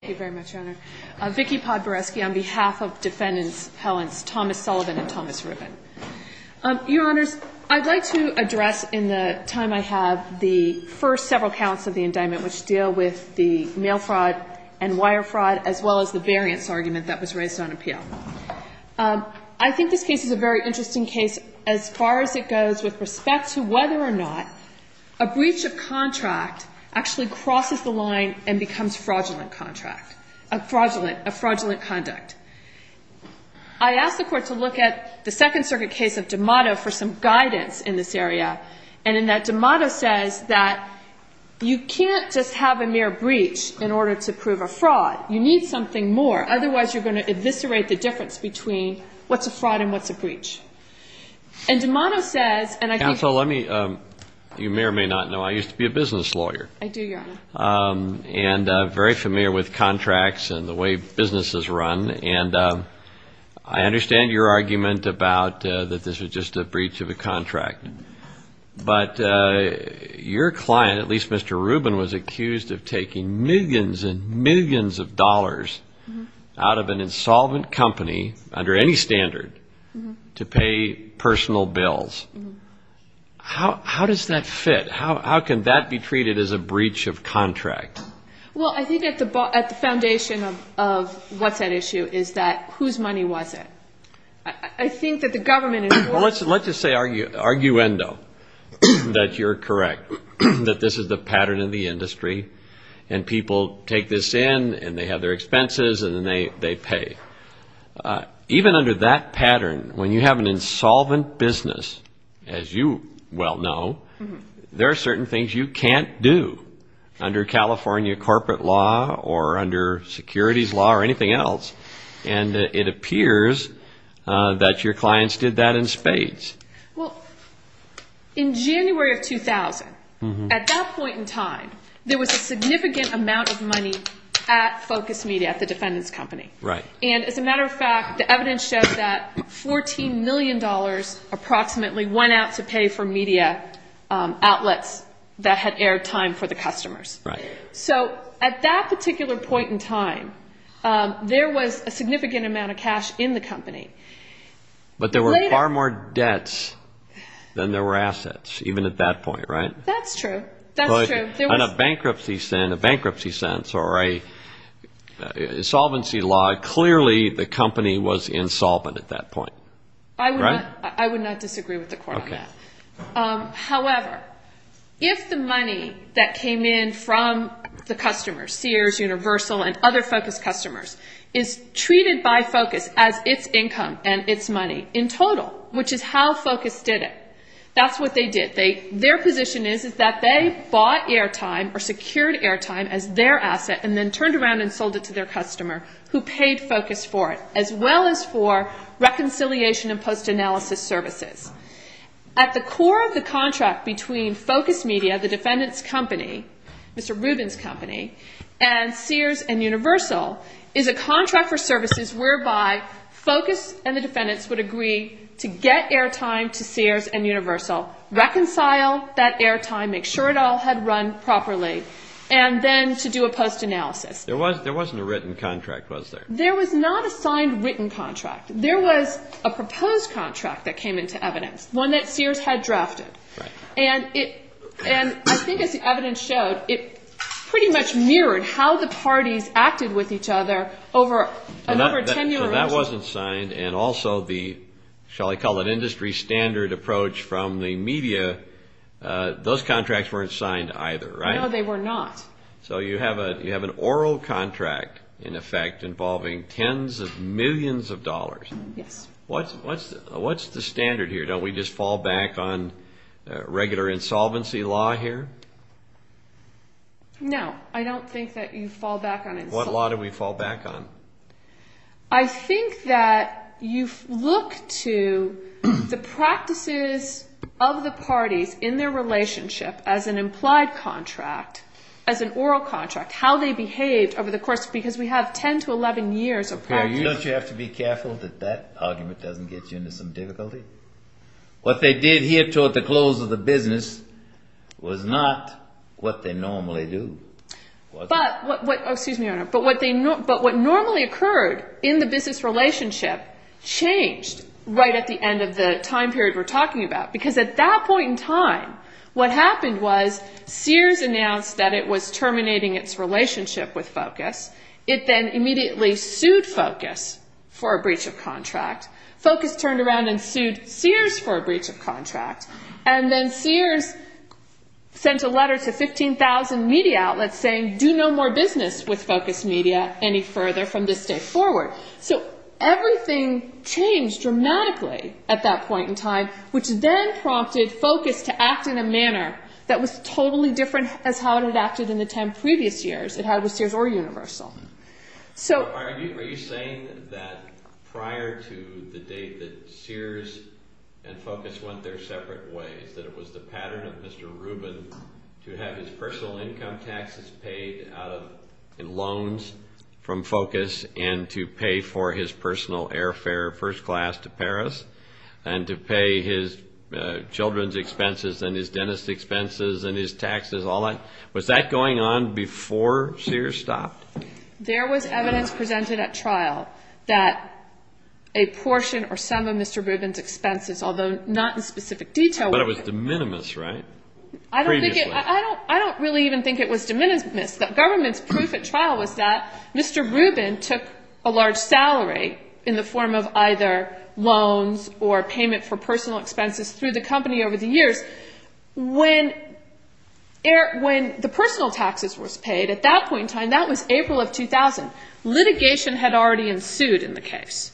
Thank you very much, Your Honor. Vicki Podboresky on behalf of Defendants Helens, Thomas Sullivan and Thomas Ribbon. Your Honors, I'd like to address in the time I have the first several counts of the indictment which deal with the mail fraud and wire fraud as well as the variance argument that was raised on appeal. I think this case is a very interesting case as far as it goes with respect to whether or not a breach of contract actually crosses the line and becomes fraudulent conduct. I asked the Court to look at the Second Circuit case of D'Amato for some guidance in this area and in that D'Amato says that you can't just have a mere breach in order to prove a fraud. You need something more, otherwise you're going to eviscerate the difference between what's a fraud and what's a breach. And D'Amato says, and I think... Counsel, let me, you may or may not know, I used to be a business lawyer. I do, Your Honor. And very familiar with contracts and the way businesses run and I understand your argument about that this was just a breach of a contract. But your client, at least Mr. Rubin, was accused of taking millions and millions of dollars out of an insolvent company under any standard to pay personal bills. How does that fit? How can that be treated as a breach of contract? Well, I think at the foundation of what's at issue is that whose money was it? I think that the government is... Well, let's just say arguendo, that you're correct, that this is the pattern in the industry and people take this in and they have their expenses and then they pay. Even under that pattern, when you have an insolvent business, as you well know, there are certain things you can't do under California corporate law or under securities law or anything else. And it appears that your clients did that in spades. Well, in January of 2000, at that point in time, there was a significant amount of money at Focus Media, at the defendant's company. And as a matter of fact, the evidence shows that $14 million approximately went out to pay for media outlets that had aired time for the customers. So at that particular point in time, there was a significant amount of cash in the company. But there were far more debts than there were assets, even at that point, right? That's true. In a bankruptcy sense or an insolvency law, clearly the company was insolvent at that point. However, if the money that came in from the customers, Sears, Universal, and other Focus customers, is treated by Focus as its income and its money in total, which is how Focus did it, that's what they did. Their position is that they bought airtime or secured airtime as their asset and then turned around and sold it to their customer who paid Focus for it, as well as for reconciliation and post-analysis services. At the core of the contract between Focus Media, the defendant's company, Mr. Rubin's company, and Sears and Universal is a contract for services whereby Focus and the defendants would agree to get airtime to Sears and Universal, reconcile that airtime, make sure it all had run properly, and then to do a post-analysis. There wasn't a written contract, was there? There was not a signed written contract. There was a proposed contract that came into evidence, one that Sears had drafted. And I think as the evidence showed, it pretty much mirrored how the parties acted with each other over a number of ten years. So that wasn't signed, and also the, shall I call it, industry standard approach from the media, those contracts weren't signed either, right? No, they were not. So you have an oral contract, in effect, involving tens of millions of dollars. Yes. What's the standard here? Don't we just fall back on regular insolvency law here? No, I don't think that you fall back on insolvency. What law do we fall back on? I think that you look to the practices of the parties in their relationship as an implied contract, as an oral contract, how they behaved over the course, because we have 10 to 11 years of practice. Okay, don't you have to be careful that that argument doesn't get you into some difficulty? What they did here toward the close of the business was not what they normally do. But what normally occurred in the business relationship changed right at the end of the time period we're talking about, because at that point in time, what happened was Sears announced that it was terminating its relationship with Focus. It then immediately sued Focus for a breach of contract. Focus turned around and sued Sears for a breach of contract. And then Sears sent a letter to 15,000 media outlets saying, do no more business with Focus Media any further from this day forward. So everything changed dramatically at that point in time, which then prompted Focus to act in a manner that was totally different as how it had acted in the 10 previous years it had with Sears or Universal. Are you saying that prior to the date that Sears and Focus went their separate ways, that it was the pattern of Mr. Rubin to have his personal income taxes paid out of loans from Focus and to pay for his personal airfare first class to Paris and to pay his children's expenses and his dentist's expenses and his taxes? Was that going on before Sears stopped? There was evidence presented at trial that a portion or some of Mr. Rubin's expenses, although not in specific detail. But it was de minimis, right? I don't really even think it was de minimis. The government's proof at trial was that Mr. Rubin took a large salary in the form of either loans or payment for personal expenses through the company over the years. When the personal taxes were paid at that point in time, that was April of 2000. Litigation had already ensued in the case.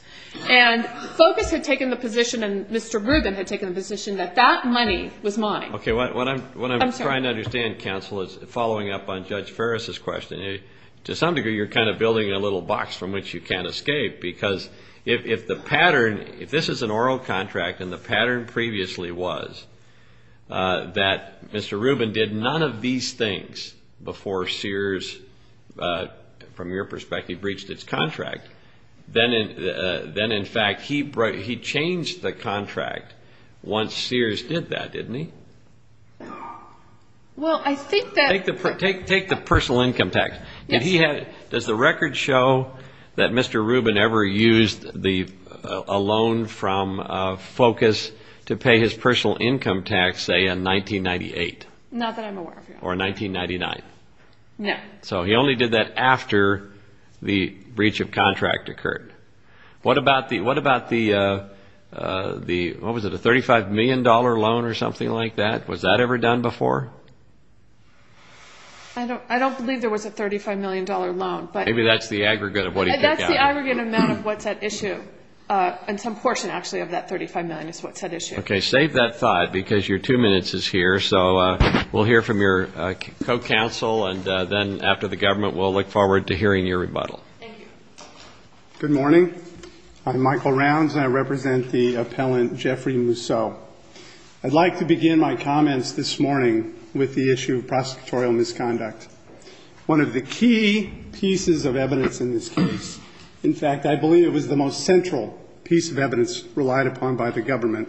And Focus had taken the position and Mr. Rubin had taken the position that that money was mine. What I'm trying to understand, counsel, is following up on Judge Ferris' question. To some degree, you're kind of building a little box from which you can't escape. Because if the pattern, if this is an oral contract and the pattern previously was that Mr. Rubin did none of these things before Sears, from your perspective, breached its contract, then, in fact, he changed the contract once Sears did that, didn't he? Well, I think that... Take the personal income tax. Does the record show that Mr. Rubin ever used a loan from Focus to pay his personal income tax, say, in 1998? Not that I'm aware of. Or 1999? No. So he only did that after the breach of contract occurred. What about the, what was it, a $35 million loan or something like that? Was that ever done before? I don't believe there was a $35 million loan. Maybe that's the aggregate of what he took out. That's the aggregate amount of what's at issue. And some portion, actually, of that $35 million is what's at issue. Okay. Save that thought because your two minutes is here. So we'll hear from your co-counsel, and then, after the government, we'll look forward to hearing your rebuttal. Thank you. Good morning. I'm Michael Rounds, and I represent the appellant Jeffrey Mousseau. I'd like to begin my comments this morning with the issue of prosecutorial misconduct. One of the key pieces of evidence in this case, in fact, I believe it was the most central piece of evidence relied upon by the government,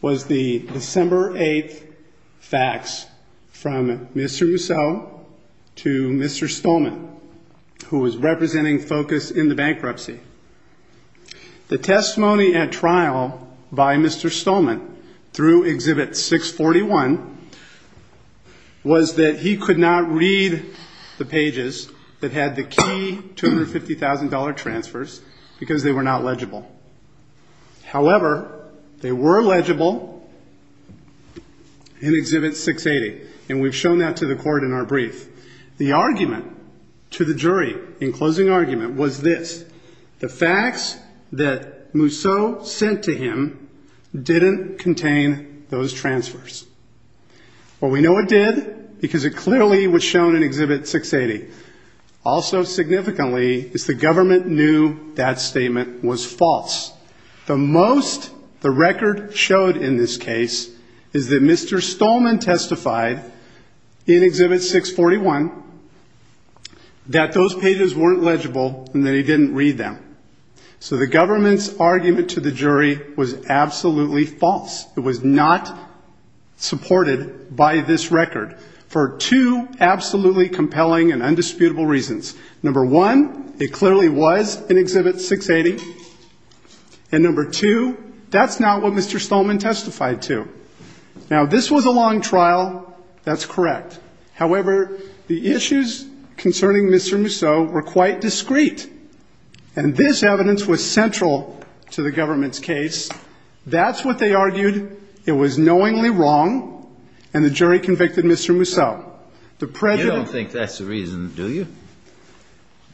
was the December 8th facts from Mr. Mousseau to Mr. Stolman, who was representing focus in the bankruptcy. The testimony at trial by Mr. Stolman through Exhibit 641 was that he could not read the pages that had the key $250,000 transfers because they were not legible. However, they were legible in Exhibit 680, and we've shown that to the court in our brief. The argument to the jury in closing argument was this. The facts that Mousseau sent to him didn't contain those transfers. Well, we know it did because it clearly was shown in Exhibit 680. Also significantly is the government knew that statement was false. The most the record showed in this case is that Mr. Stolman testified in Exhibit 641 that those pages weren't legible and that he didn't read them. So the government's argument to the jury was absolutely false. It was not supported by this record for two absolutely compelling and undisputable reasons. Number one, it clearly was in Exhibit 680, and number two, that's not what Mr. Stolman testified to. Now, this was a long trial. That's correct. However, the issues concerning Mr. Mousseau were quite discreet, and this evidence was central to the government's case. That's what they argued. It was knowingly wrong, and the jury convicted Mr. Mousseau. You don't think that's the reason, do you?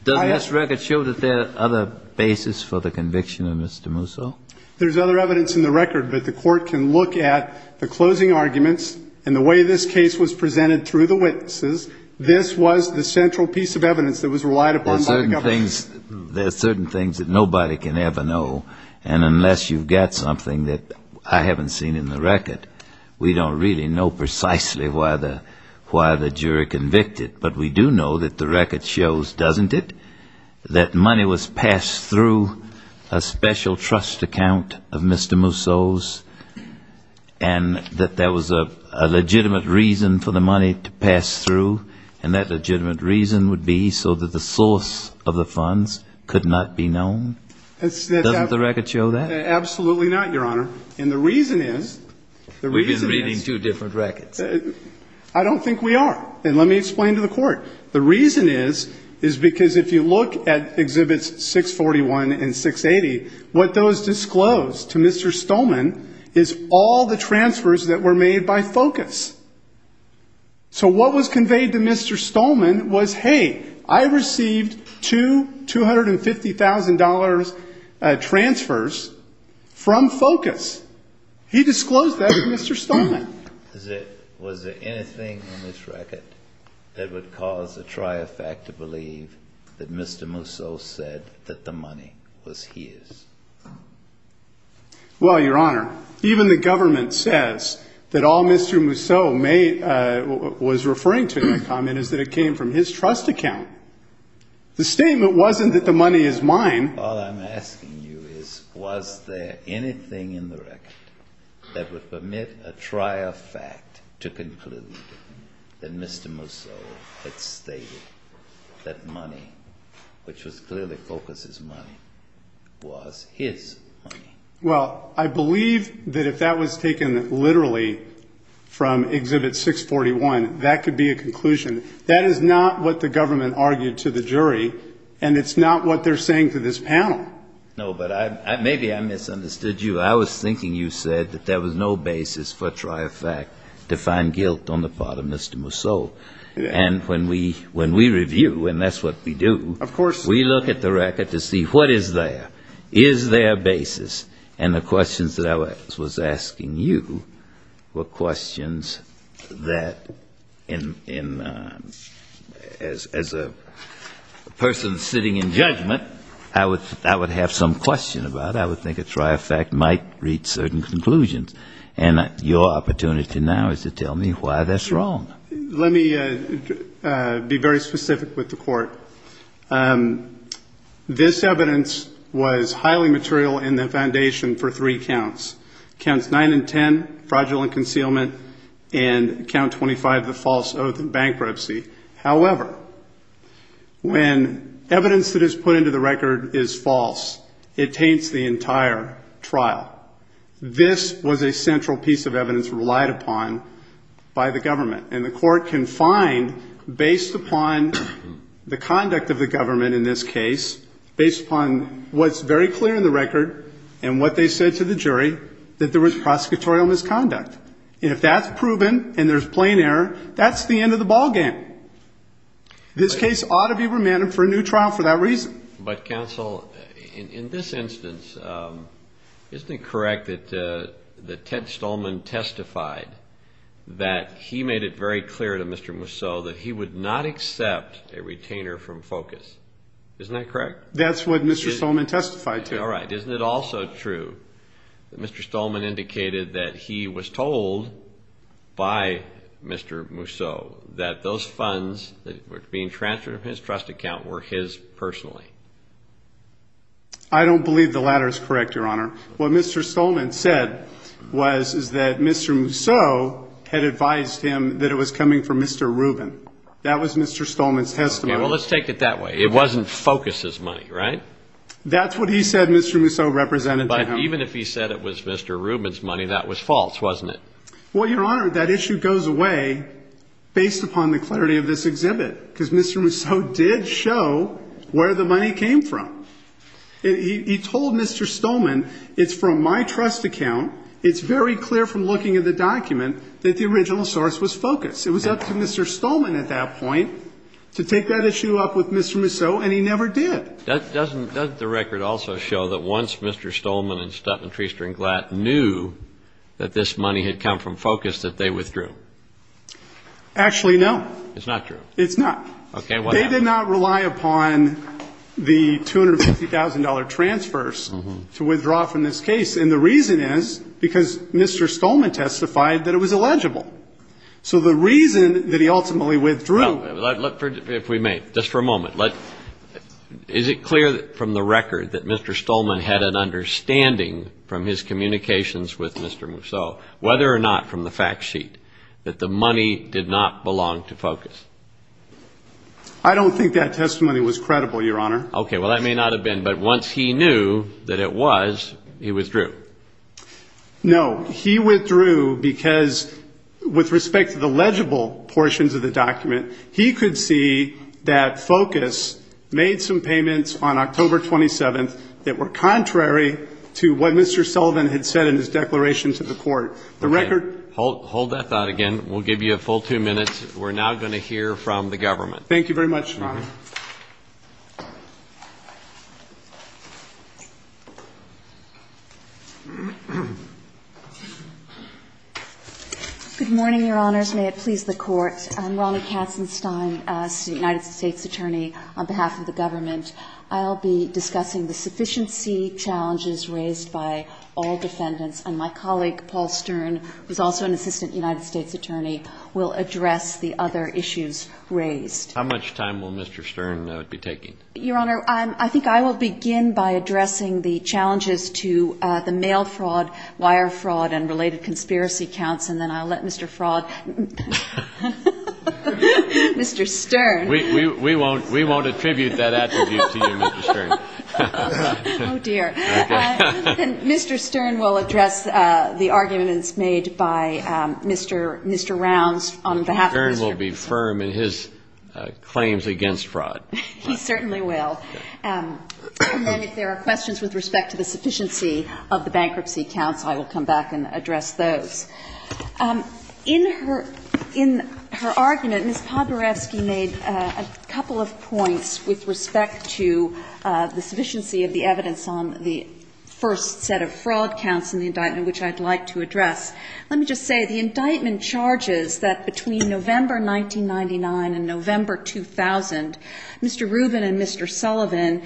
Does this record show that there are other bases for the conviction of Mr. Mousseau? There's other evidence in the record, but the court can look at the closing arguments and the way this case was presented through the witnesses. This was the central piece of evidence that was relied upon by the government. There are certain things that nobody can ever know, and unless you've got something that I haven't seen in the record, we don't really know precisely why the jury convicted, but we do know that the record shows, doesn't it, that money was passed through a special trust account of Mr. Mousseau's and that there was a legitimate reason for the money to pass through, and that legitimate reason would be so that the source of the funds could not be known? Doesn't the record show that? Absolutely not, Your Honor. And the reason is, the reason is we've been reading two different records. I don't think we are, and let me explain to the court. The reason is, is because if you look at Exhibits 641 and 680, what those disclose to Mr. Stolman is all the transfers that were made by focus. So what was conveyed to Mr. Stolman was, hey, I received two $250,000 transfers from focus. He disclosed that to Mr. Stolman. Was there anything in this record that would cause the triumphant to believe that Mr. Mousseau said that the money was his? Well, Your Honor, even the government says that all Mr. Mousseau was referring to in that comment is that it came from his trust account. The statement wasn't that the money is mine. All I'm asking you is, was there anything in the record that would permit a triumphant to conclude that Mr. Mousseau had stated that money, which was clearly focus's money, was his money? Well, I believe that if that was taken literally from Exhibit 641, that could be a conclusion. That is not what the government argued to the jury, and it's not what they're saying to this panel. No, but maybe I misunderstood you. I was thinking you said that there was no basis for triumphant to find guilt on the part of Mr. Mousseau. And when we review, and that's what we do, we look at the record to see what is there. Is there a basis? And the questions that I was asking you were questions that, as a person sitting in judgment, I would have some question about. I would think a triumphant might reach certain conclusions. And your opportunity now is to tell me why that's wrong. Let me be very specific with the Court. This evidence was highly material in the foundation for three counts, Counts 9 and 10, Fraudulent Concealment, and Count 25, the False Oath of Bankruptcy. However, when evidence that is put into the record is false, it taints the entire trial. This was a central piece of evidence relied upon by the government. And the Court can find, based upon the conduct of the government in this case, based upon what's very clear in the record and what they said to the jury, that there was prosecutorial misconduct. And if that's proven and there's plain error, that's the end of the ball game. This case ought to be remanded for a new trial for that reason. But, counsel, in this instance, isn't it correct that Ted Stolman testified that he made it very clear to Mr. Mousseau that he would not accept a retainer from FOCUS? Isn't that correct? That's what Mr. Stolman testified to. All right. Isn't it also true that Mr. Stolman indicated that he was told by Mr. Mousseau that those funds that were being transferred from his trust account were his personally? I don't believe the latter is correct, Your Honor. What Mr. Stolman said was that Mr. Mousseau had advised him that it was coming from Mr. Rubin. That was Mr. Stolman's testimony. Well, let's take it that way. It wasn't FOCUS's money, right? That's what he said Mr. Mousseau represented to him. But even if he said it was Mr. Rubin's money, that was false, wasn't it? Well, Your Honor, that issue goes away based upon the clarity of this exhibit, because Mr. Mousseau did show where the money came from. He told Mr. Stolman, it's from my trust account. It's very clear from looking at the document that the original source was FOCUS. It was up to Mr. Stolman at that point to take that issue up with Mr. Mousseau, and he never did. Doesn't the record also show that once Mr. Stolman and Stutman, Treaster, and Glatt knew that this money had come from FOCUS, that they withdrew? Actually, no. It's not true? It's not. Okay. They did not rely upon the $250,000 transfers to withdraw from this case, and the reason is because Mr. Stolman testified that it was illegible. So the reason that he ultimately withdrew. If we may, just for a moment. Is it clear from the record that Mr. Stolman had an understanding from his communications with Mr. Mousseau, whether or not from the fact sheet, that the money did not belong to FOCUS? I don't think that testimony was credible, Your Honor. Okay. Well, that may not have been, but once he knew that it was, he withdrew? No. He withdrew because with respect to the legible portions of the document, he could see that FOCUS made some payments on October 27th that were contrary to what Mr. Sullivan had said in his declaration to the court. The record ---- Hold that thought again. We'll give you a full two minutes. We're now going to hear from the government. Thank you very much, Your Honor. Good morning, Your Honors. May it please the Court. I'm Ronna Katzenstein, United States Attorney, on behalf of the government. I'll be discussing the sufficiency challenges raised by all defendants, and my colleague, Paul Stern, who's also an assistant United States Attorney, will address the other issues raised. How much time will Mr. Stern be taking? Your Honor, I think I will begin by addressing the challenges to the mail fraud, wire fraud, and related conspiracy counts, and then I'll let Mr. Fraud ---- Mr. Stern. We won't attribute that attribute to you, Mr. Stern. Oh, dear. Okay. And Mr. Stern will address the arguments made by Mr. Rounds on behalf of Mr. Pritzker. Mr. Stern will be firm in his claims against fraud. He certainly will. And then if there are questions with respect to the sufficiency of the bankruptcy counts, I will come back and address those. In her argument, Ms. Poborewski made a couple of points with respect to the sufficiency of the evidence on the first set of fraud counts in the indictment, which I'd like to address. Let me just say, the indictment charges that between November 1999 and November 2000, Mr. Rubin and Mr. Sullivan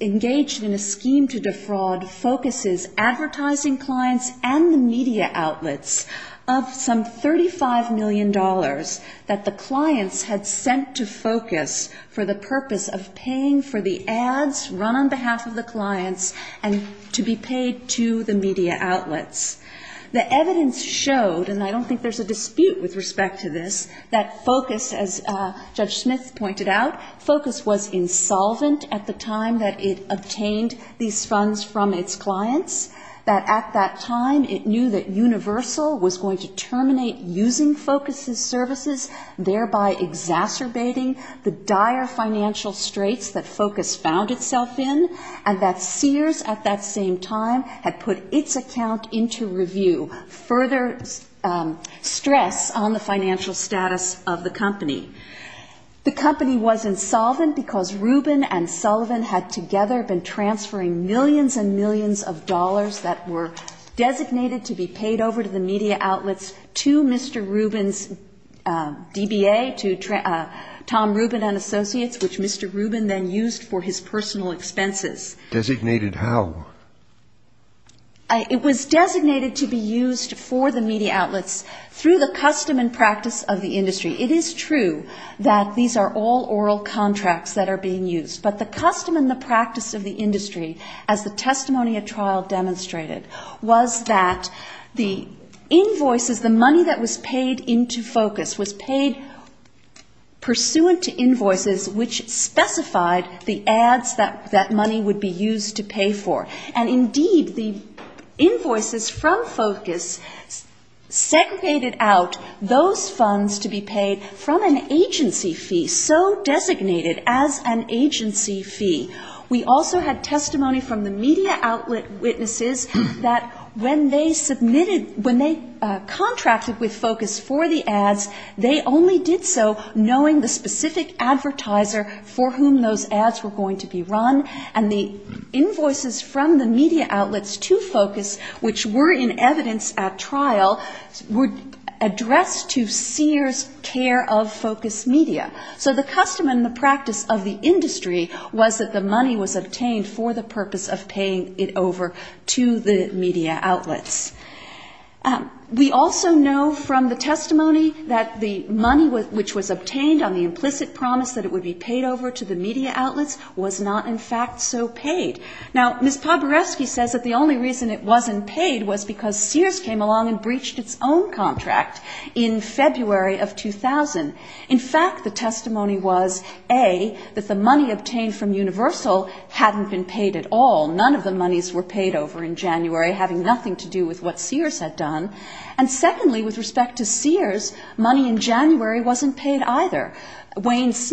engaged in a scheme to defraud focuses advertising clients and the media outlets of some $35 million that the clients had sent to Focus for the purpose of paying for the ads run on behalf of the clients and to be paid to the media outlets. The evidence showed, and I don't think there's a dispute with respect to this, that Focus, as Judge Smith pointed out, Focus was insolvent at the time that it obtained these funds from its clients, that at that time it knew that Universal was going to terminate using Focus's services, thereby exacerbating the dire financial straits that Focus found itself in, and that Sears, at that same time, had put its account into review, further stress on the financial status of the company. The company was insolvent because Rubin and Sullivan had together been transferring millions and millions of dollars that were designated to be paid over to the media outlets to Mr. Rubin's DBA, to Tom Rubin and Associates, which Mr. Rubin then used for his personal expenses. It was designated to be used for the media outlets through the custom and practice of the industry. It is true that these are all oral contracts that are being used, but the custom and the practice of the industry, as the testimony at trial demonstrated, was that the invoices, the money that was paid into Focus was paid pursuant to invoices which specified the ads that money would be used to pay for. And indeed, the invoices from Focus segregated out those funds to be paid from an agency fee, so designated as an agency fee. We also had testimony from the media outlet witnesses that when they submitted, when they submitted, for whom those ads were going to be run, and the invoices from the media outlets to Focus, which were in evidence at trial, were addressed to Sears' care of Focus media. So the custom and the practice of the industry was that the money was obtained for the purpose of paying it over to the media outlets. We also know from the testimony that the money which was obtained on the implicit promise that it would be paid over to the media outlets was not in fact so paid. Now, Ms. Poborewski says that the only reason it wasn't paid was because Sears came along and breached its own contract in February of 2000. In fact, the testimony was, A, that the money obtained from Universal hadn't been paid at all. None of the monies were paid over in January, having nothing to do with what Sears had done. And secondly, with respect to Sears, money in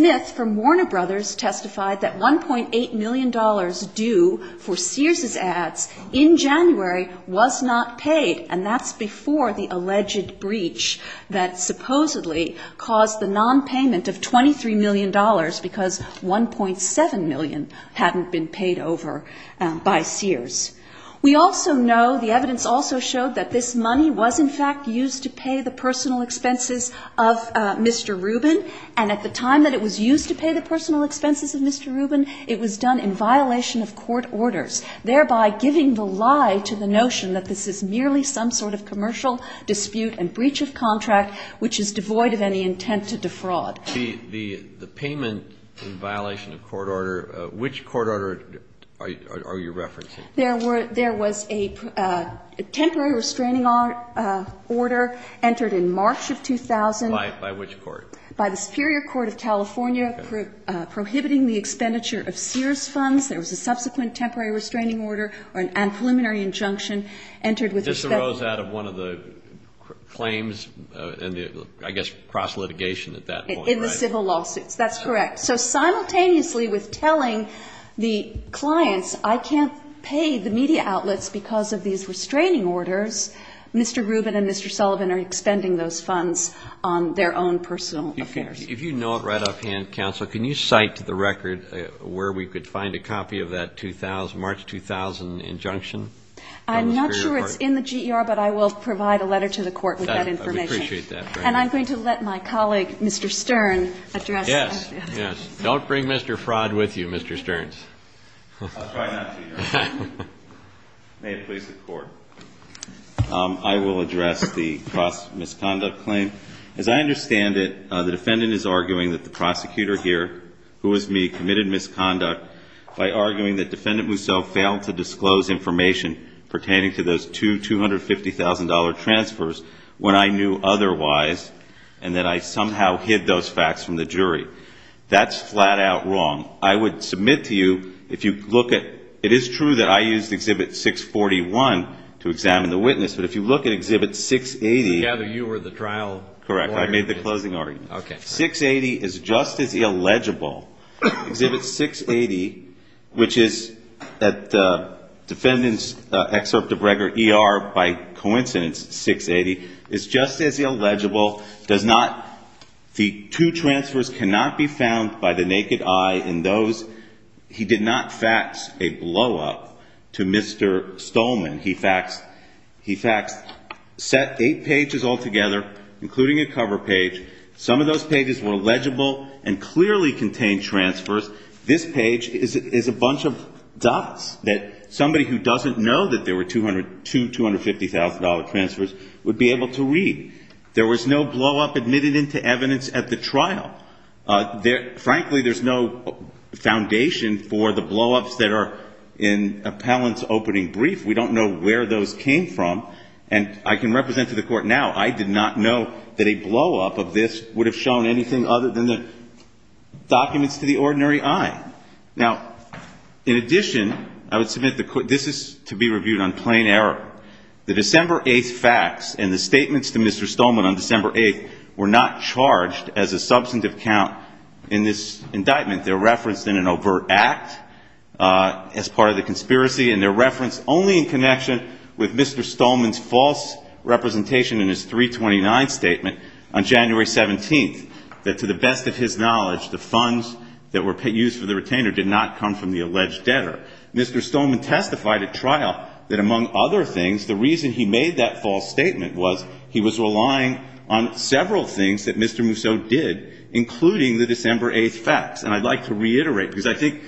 depth from Warner Brothers testified that $1.8 million due for Sears' ads in January was not paid, and that's before the alleged breach that supposedly caused the nonpayment of $23 million because $1.7 million hadn't been paid over by Sears. We also know, the evidence also showed that this money was in fact used to pay the personal expenses of Mr. Rubin. It was done in violation of court orders, thereby giving the lie to the notion that this is merely some sort of commercial dispute and breach of contract which is devoid of any intent to defraud. The payment in violation of court order, which court order are you referencing? There was a temporary restraining order entered in March of 2000. By which court? By the Superior Court of California prohibiting the expenditure of Sears funds. There was a subsequent temporary restraining order and preliminary injunction entered with respect to This arose out of one of the claims, I guess cross litigation at that point, right? In the civil lawsuits. That's correct. So simultaneously with telling the clients I can't pay the media outlets because of these restraining orders, Mr. Rubin and Mr. Sullivan are expending those funds on their own personal affairs. If you know it right offhand, counsel, can you cite to the record where we could find a copy of that 2000, March 2000 injunction? I'm not sure it's in the GER, but I will provide a letter to the court with that information. I would appreciate that. And I'm going to let my colleague, Mr. Stern, address that. Yes, yes. Don't bring Mr. Fraud with you, Mr. Stern. I'll try not to, Your Honor. May it please the Court. I will address the cross misconduct claim. As I understand it, the defendant is arguing that the prosecutor here, who is me, committed misconduct by arguing that Defendant Mousseau failed to disclose information pertaining to those two $250,000 transfers when I knew otherwise and that I somehow hid those facts from the jury. That's flat-out wrong. I would submit to you, if you look at, it is true that I used Exhibit 641 to examine the witness, but if you look at Exhibit 680. I gather you were the trial lawyer. Correct. I made the closing argument. Okay. 680 is just as illegible. Exhibit 680, which is at the defendant's excerpt of record, ER, by coincidence, 680, is just as illegible. The two transfers cannot be found by the naked eye in those. He did not fax a blow-up to Mr. Stolman. He faxed, set eight pages altogether, including a cover page. Some of those pages were legible and clearly contained transfers. This page is a bunch of dots that somebody who doesn't know that there were two $250,000 transfers would be able to read. There was no blow-up admitted into evidence at the trial. Frankly, there's no foundation for the blow-ups that are in appellant's opening brief. We don't know where those came from. And I can represent to the Court now, I did not know that a blow-up of this would have shown anything other than the documents to the ordinary eye. Now, in addition, I would submit this is to be reviewed on plain error. The December 8th fax and the statements to Mr. Stolman on December 8th were not charged as a substantive count in this indictment. They're referenced in an overt act as part of the conspiracy, and they're referenced only in connection with Mr. Stolman's false representation in his 329 statement on January 17th, that to the best of his knowledge, the funds that were used for the retainer did not come from the alleged debtor. Mr. Stolman testified at trial that, among other things, the reason he made that false statement was he was relying on several things that Mr. Mousseau did, including the December 8th fax. And I'd like to reiterate, because I think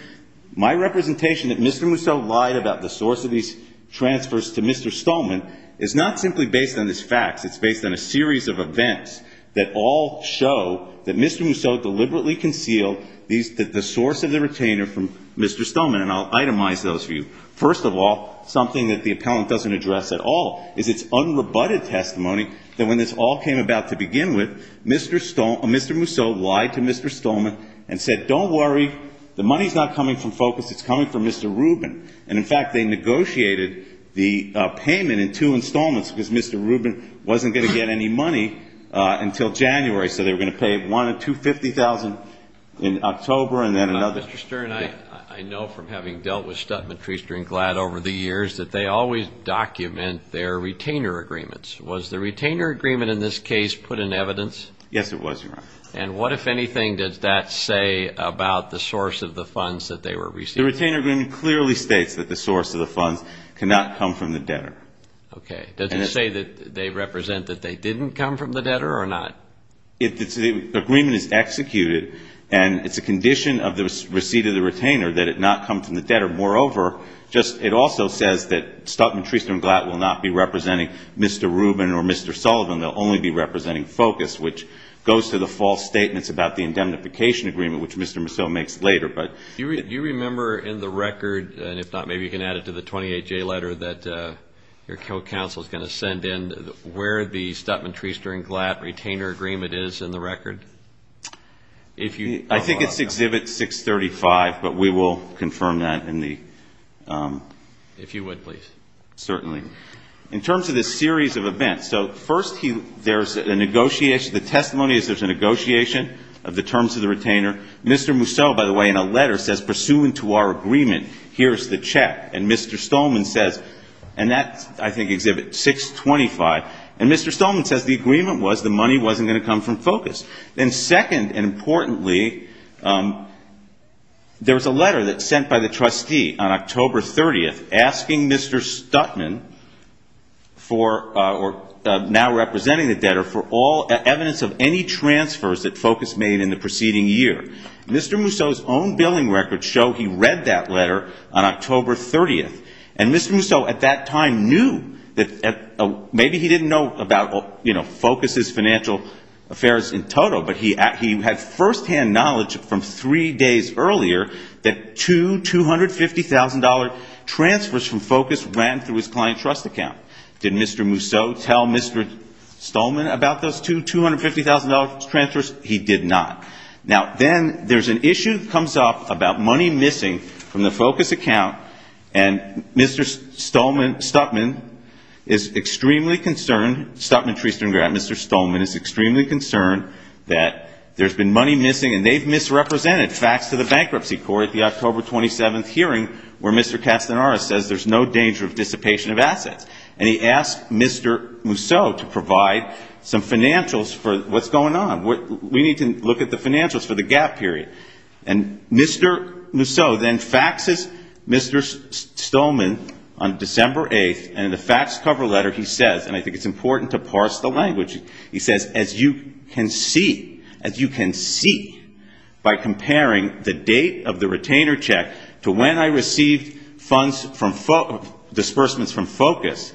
my representation that Mr. Mousseau lied about the source of these transfers to Mr. Stolman is not simply based on this fax. It's based on a series of events that all show that Mr. Mousseau deliberately concealed the source of the retainer from Mr. Stolman. And I'll itemize those for you. First of all, something that the appellant doesn't address at all is its unrebutted testimony that when this all came about to begin with, Mr. Mousseau lied to Mr. Stolman and said, don't worry, the money's not coming from FOCUS. It's coming from Mr. Rubin. And, in fact, they negotiated the payment in two installments because Mr. Rubin wasn't going to get any money until January. So they were going to pay $250,000 in October and then another. Mr. Stern, I know from having dealt with Stutman, Treaster, and Glad over the years that they always document their retainer agreements. Was the retainer agreement in this case put in evidence? Yes, it was, Your Honor. And what, if anything, does that say about the source of the funds that they were receiving? The retainer agreement clearly states that the source of the funds cannot come from the debtor. Okay. Does it say that they represent that they didn't come from the debtor or not? The agreement is executed, and it's a condition of the receipt of the retainer that it not come from the debtor. Moreover, it also says that Stutman, Treaster, and Glad will not be representing Mr. Rubin or Mr. Sullivan. They'll only be representing FOCUS, which goes to the false statements about the indemnification agreement, which Mr. Mousseau makes later. Do you remember in the record, and if not, maybe you can add it to the 28-J letter, that your counsel is going to send in where the Stutman, Treaster, and Glad retainer agreement is in the record? I think it's Exhibit 635, but we will confirm that. If you would, please. Certainly. In terms of this series of events, so first there's a negotiation. The testimony is there's a negotiation of the terms of the retainer. Mr. Mousseau, by the way, in a letter says, Pursuant to our agreement, here's the check. And Mr. Stolman says, and that's, I think, Exhibit 625. And Mr. Stolman says the agreement was the money wasn't going to come from FOCUS. And second, and importantly, there was a letter that was sent by the trustee on October 30th asking Mr. Stutman for or now representing the debtor for all evidence of any transfers that FOCUS made in the preceding year. Mr. Mousseau's own billing records show he read that letter on October 30th. And Mr. Mousseau at that time knew that maybe he didn't know about FOCUS's financial affairs in total, but he had firsthand knowledge from three days earlier that two $250,000 transfers from FOCUS ran through his client trust account. Did Mr. Mousseau tell Mr. Stolman about those two $250,000 transfers? He did not. Now, then there's an issue that comes up about money missing from the FOCUS account. And Mr. Stolman, Stutman, is extremely concerned, Stutman, Treasurer and Grant, Mr. Stolman is extremely concerned that there's been money missing and they've misrepresented facts to the Bankruptcy Court at the October 27th hearing where Mr. Castanara says there's no danger of dissipation of assets. And he asked Mr. Mousseau to provide some financials for what's going on. We need to look at the financials for the gap period. And Mr. Mousseau then faxes Mr. Stolman on December 8th, and in the faxed cover letter he says, and I think it's important to parse the language, he says, as you can see, as you can see by comparing the date of the retainer check to when I received funds from FOCUS, disbursements from FOCUS,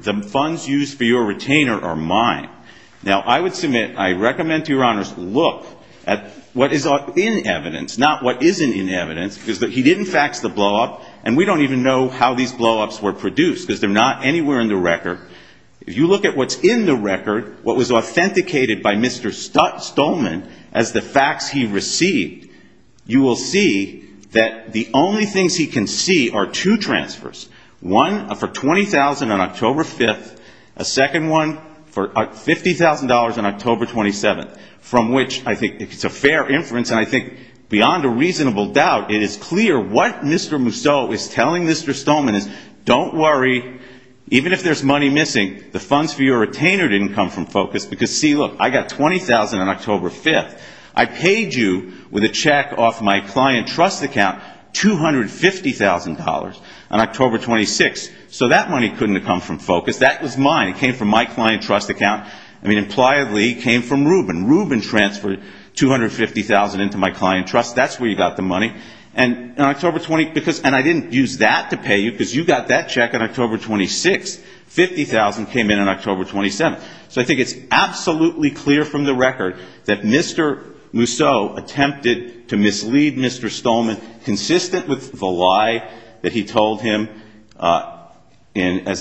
the funds used for your retainer are mine. Now, I would submit, I recommend to your honors, look at what is in evidence, not what isn't in evidence, because he didn't fax the blowup and we don't even know how these blowups were produced because they're not anywhere in the record. If you look at what's in the record, what was authenticated by Mr. Stolman as the fax he received, you will see that the only things he can see are two transfers, one for $20,000 on October 5th, a second one for $50,000 on October 27th, from which I think it's a fair inference and I think beyond a reasonable doubt it is clear what Mr. Mousseau is telling Mr. Stolman is, don't worry, even if there's money missing, the funds for your retainer didn't come from FOCUS because, see, look, I got $20,000 on October 5th. I paid you with a check off my client trust account $250,000 on October 26th, so that money couldn't have come from FOCUS. That was mine. It came from my client trust account. I mean, impliedly, it came from Rubin. Rubin transferred $250,000 into my client trust. That's where you got the money. And I didn't use that to pay you because you got that check on October 26th. $50,000 came in on October 27th. So I think it's absolutely clear from the record that Mr. Mousseau attempted to mislead Mr. Stolman, consistent with the lie that he told him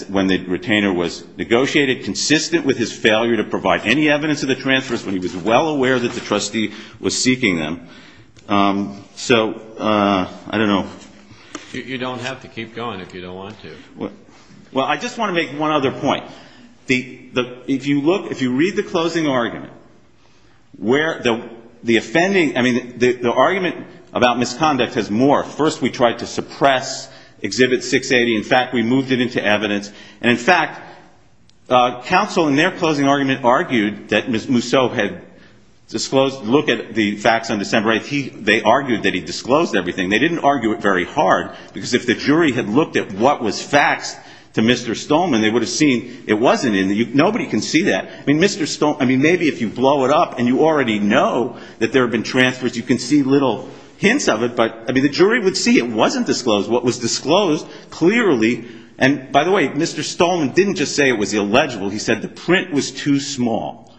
when the retainer was negotiated, consistent with his failure to provide any evidence of the transfers when he was well aware that the trustee was seeking them. So I don't know. You don't have to keep going if you don't want to. Well, I just want to make one other point. If you look, if you read the closing argument, where the offending, I mean, the argument about misconduct has morphed. First we tried to suppress Exhibit 680. In fact, we moved it into evidence. And, in fact, counsel in their closing argument argued that Mr. Mousseau had disclosed, looked at the facts on December 8th. They argued that he disclosed everything. They didn't argue it very hard because if the jury had looked at what was faxed to Mr. Stolman, they would have seen it wasn't in there. Nobody can see that. I mean, Mr. Stolman, I mean, maybe if you blow it up and you already know that there have been transfers, you can see little hints of it. But, I mean, the jury would see it wasn't disclosed. What was disclosed clearly, and, by the way, Mr. Stolman didn't just say it was illegible. He said the print was too small.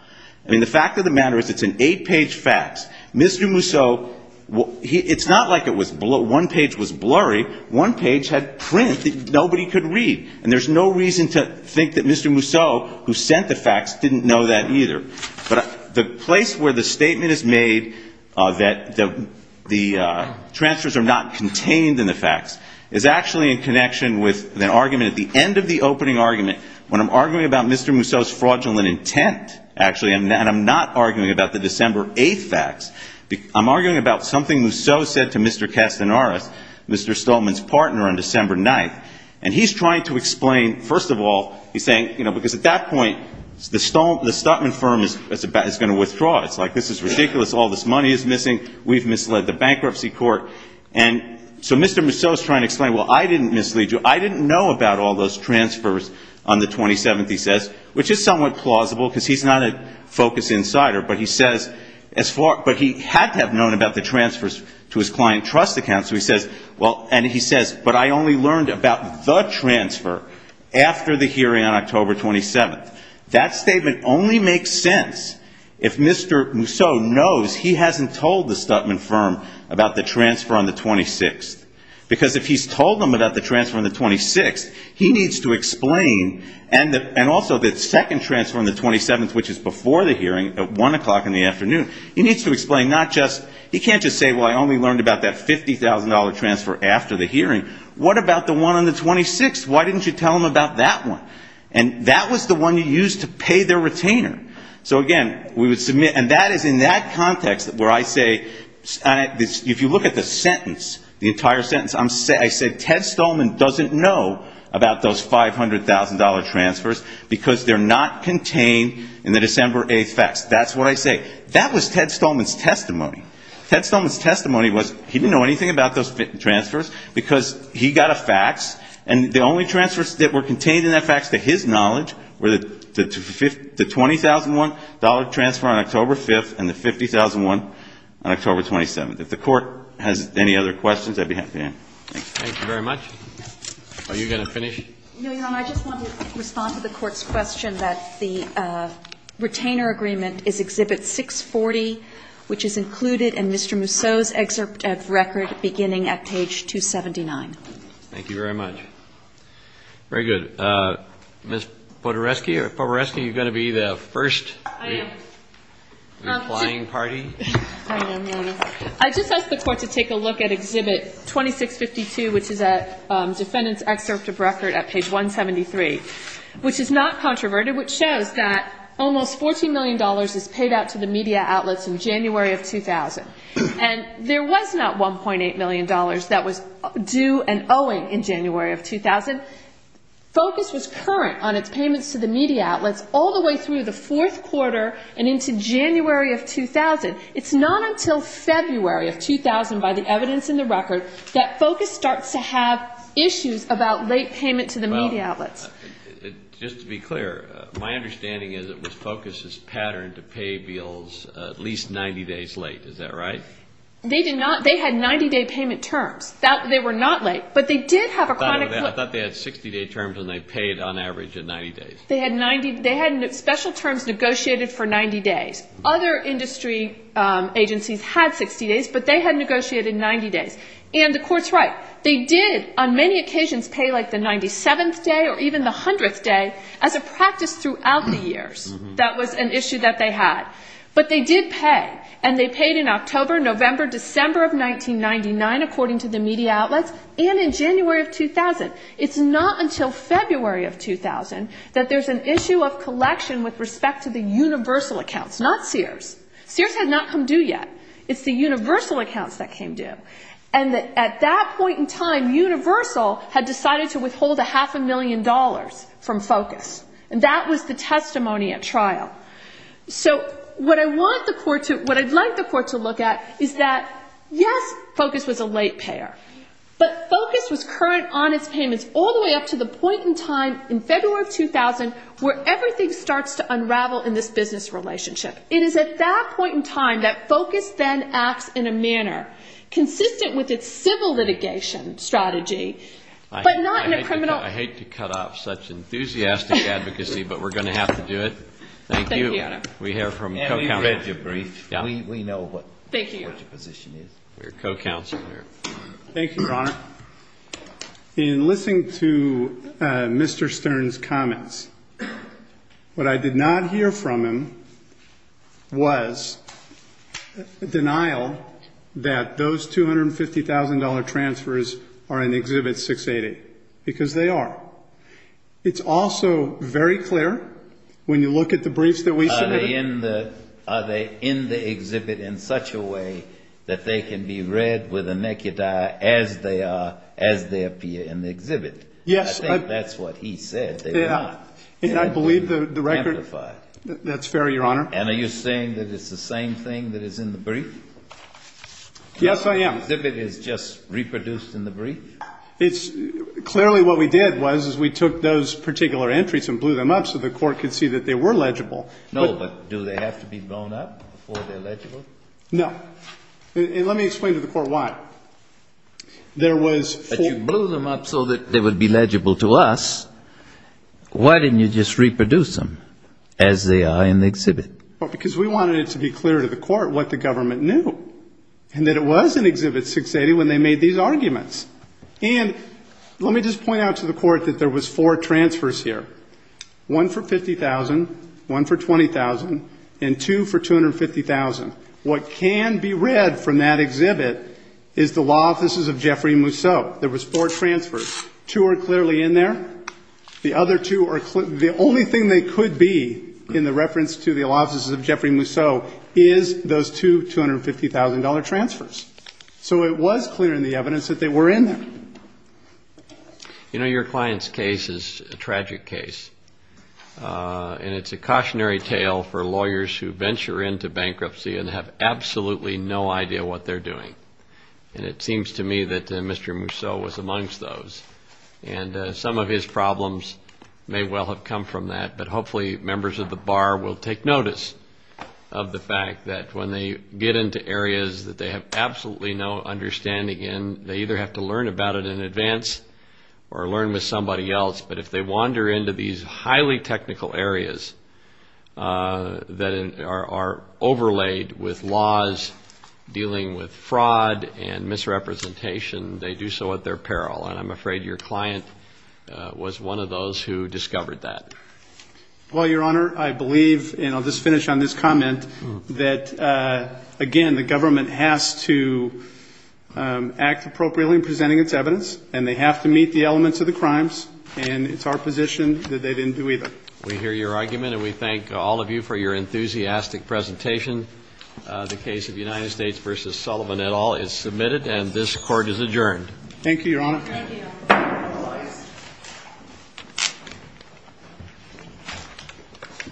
I mean, the fact of the matter is it's an eight-page fax. Mr. Mousseau, it's not like it was, one page was blurry. One page had print that nobody could read. And there's no reason to think that Mr. Mousseau, who sent the fax, didn't know that either. But the place where the statement is made that the transfers are not contained in the fax is actually in connection with an argument at the end of the opening argument when I'm arguing about Mr. Mousseau's fraudulent intent, actually, and I'm not arguing about the December 8th fax. I'm arguing about something Mousseau said to Mr. Castanares, Mr. Stolman's partner, on December 9th. And he's trying to explain, first of all, he's saying, you know, because at that point, the Stolman firm is going to withdraw. It's like, this is ridiculous. All this money is missing. We've misled the bankruptcy court. And so Mr. Mousseau is trying to explain, well, I didn't mislead you. I didn't know about all those transfers on the 27th, he says, which is somewhat plausible because he's not a focused insider. But he says, but he had to have known about the transfers to his client trust account. So he says, well, and he says, but I only learned about the transfer after the hearing on October 27th. That statement only makes sense if Mr. Mousseau knows he hasn't told the Stolman firm about the transfer on the 26th. Because if he's told them about the transfer on the 26th, he needs to explain, and also the second transfer on the 27th, which is before the hearing at 1 o'clock in the afternoon, he needs to explain not just, he can't just say, well, I only learned about that $50,000 transfer after the hearing. What about the one on the 26th? Why didn't you tell them about that one? And that was the one you used to pay their retainer. So, again, we would submit, and that is in that context where I say, if you look at the sentence, the entire sentence, I said Ted Stolman doesn't know about those $500,000 transfers because they're not contained in the December 8th facts. That's what I say. That was Ted Stolman's testimony. Ted Stolman's testimony was he didn't know anything about those transfers because he got a fax, and the only transfers that were contained in that fax, to his knowledge, were the $20,001 transfer on October 5th and the $50,001 on October 27th. If the Court has any other questions, I'd be happy to answer. Thank you very much. Are you going to finish? No, Your Honor. I just want to respond to the Court's question that the retainer agreement is Exhibit 640, which is included in Mr. Mousseau's excerpt of record beginning at page 279. Thank you very much. Very good. Ms. Podereski, are you going to be the first? I am. Replying party? I am, Your Honor. I just asked the Court to take a look at Exhibit 2652, which is a defendant's excerpt of record at page 173, which is not controverted, which shows that almost $14 million is paid out to the media outlets in January of 2000. And there was not $1.8 million that was due and owing in January of 2000. Focus was current on its payments to the media outlets all the way through the fourth quarter and into January of 2000. It's not until February of 2000, by the evidence in the record, that Focus starts to have issues about late payment to the media outlets. Just to be clear, my understanding is that it was Focus's pattern to pay bills at least 90 days late. Is that right? They did not. They had 90-day payment terms. They were not late. But they did have a chronic foot. I thought they had 60-day terms and they paid on average at 90 days. They had 90. They had special terms negotiated for 90 days. Other industry agencies had 60 days, but they had negotiated 90 days. And the court's right. They did on many occasions pay like the 97th day or even the 100th day as a practice throughout the years. That was an issue that they had. But they did pay. And they paid in October, November, December of 1999, according to the media outlets, and in January of 2000. It's not until February of 2000 that there's an issue of collection with respect to the Universal accounts, not Sears. Sears had not come due yet. It's the Universal accounts that came due. And at that point in time, Universal had decided to withhold a half a million dollars from Focus. And that was the testimony at trial. So what I'd like the court to look at is that, yes, Focus was a late payer. But Focus was current on its payments all the way up to the point in time in February of 2000 where everything starts to unravel in this business relationship. It is at that point in time that Focus then acts in a manner consistent with its civil litigation strategy, but not in a criminal. I hate to cut off such enthusiastic advocacy, but we're going to have to do it. Thank you. We have from co-counselor. We know what your position is. Your co-counselor. Thank you, Your Honor. In listening to Mr. Stern's comments, what I did not hear from him was denial that those $250,000 transfers are in Exhibit 688, because they are. It's also very clear when you look at the briefs that we submitted. Are they in the exhibit in such a way that they can be read with the naked eye as they appear in the exhibit? Yes. I think that's what he said. And I believe the record. That's fair, Your Honor. And are you saying that it's the same thing that is in the brief? Yes, I am. The exhibit is just reproduced in the brief? Clearly what we did was we took those particular entries and blew them up so the court could see that they were legible. No, but do they have to be blown up before they're legible? No. And let me explain to the court why. There was four. But you blew them up so that they would be legible to us. Why didn't you just reproduce them as they are in the exhibit? Because we wanted it to be clear to the court what the government knew, and that it was in Exhibit 680 when they made these arguments. And let me just point out to the court that there was four transfers here. One for $50,000, one for $20,000, and two for $250,000. What can be read from that exhibit is the law offices of Jeffrey Mousseau. There was four transfers. Two are clearly in there. The other two are clear. The only thing they could be in the reference to the law offices of Jeffrey Mousseau is those two $250,000 transfers. So it was clear in the evidence that they were in there. You know, your client's case is a tragic case. And it's a cautionary tale for lawyers who venture into bankruptcy and have absolutely no idea what they're doing. And it seems to me that Mr. Mousseau was amongst those. And some of his problems may well have come from that. But hopefully members of the bar will take notice of the fact that when they get into areas that they have absolutely no understanding in, they either have to learn about it in advance or learn with somebody else. But if they wander into these highly technical areas that are overlaid with laws dealing with fraud and misrepresentation, they do so at their peril. And I'm afraid your client was one of those who discovered that. Well, Your Honor, I believe, and I'll just finish on this comment, that, again, the government has to act appropriately in presenting its evidence, and they have to meet the elements of the crimes. And it's our position that they didn't do either. We hear your argument, and we thank all of you for your enthusiastic presentation. The case of United States v. Sullivan et al. is submitted, and this Court is adjourned. Thank you, Your Honor. Thank you.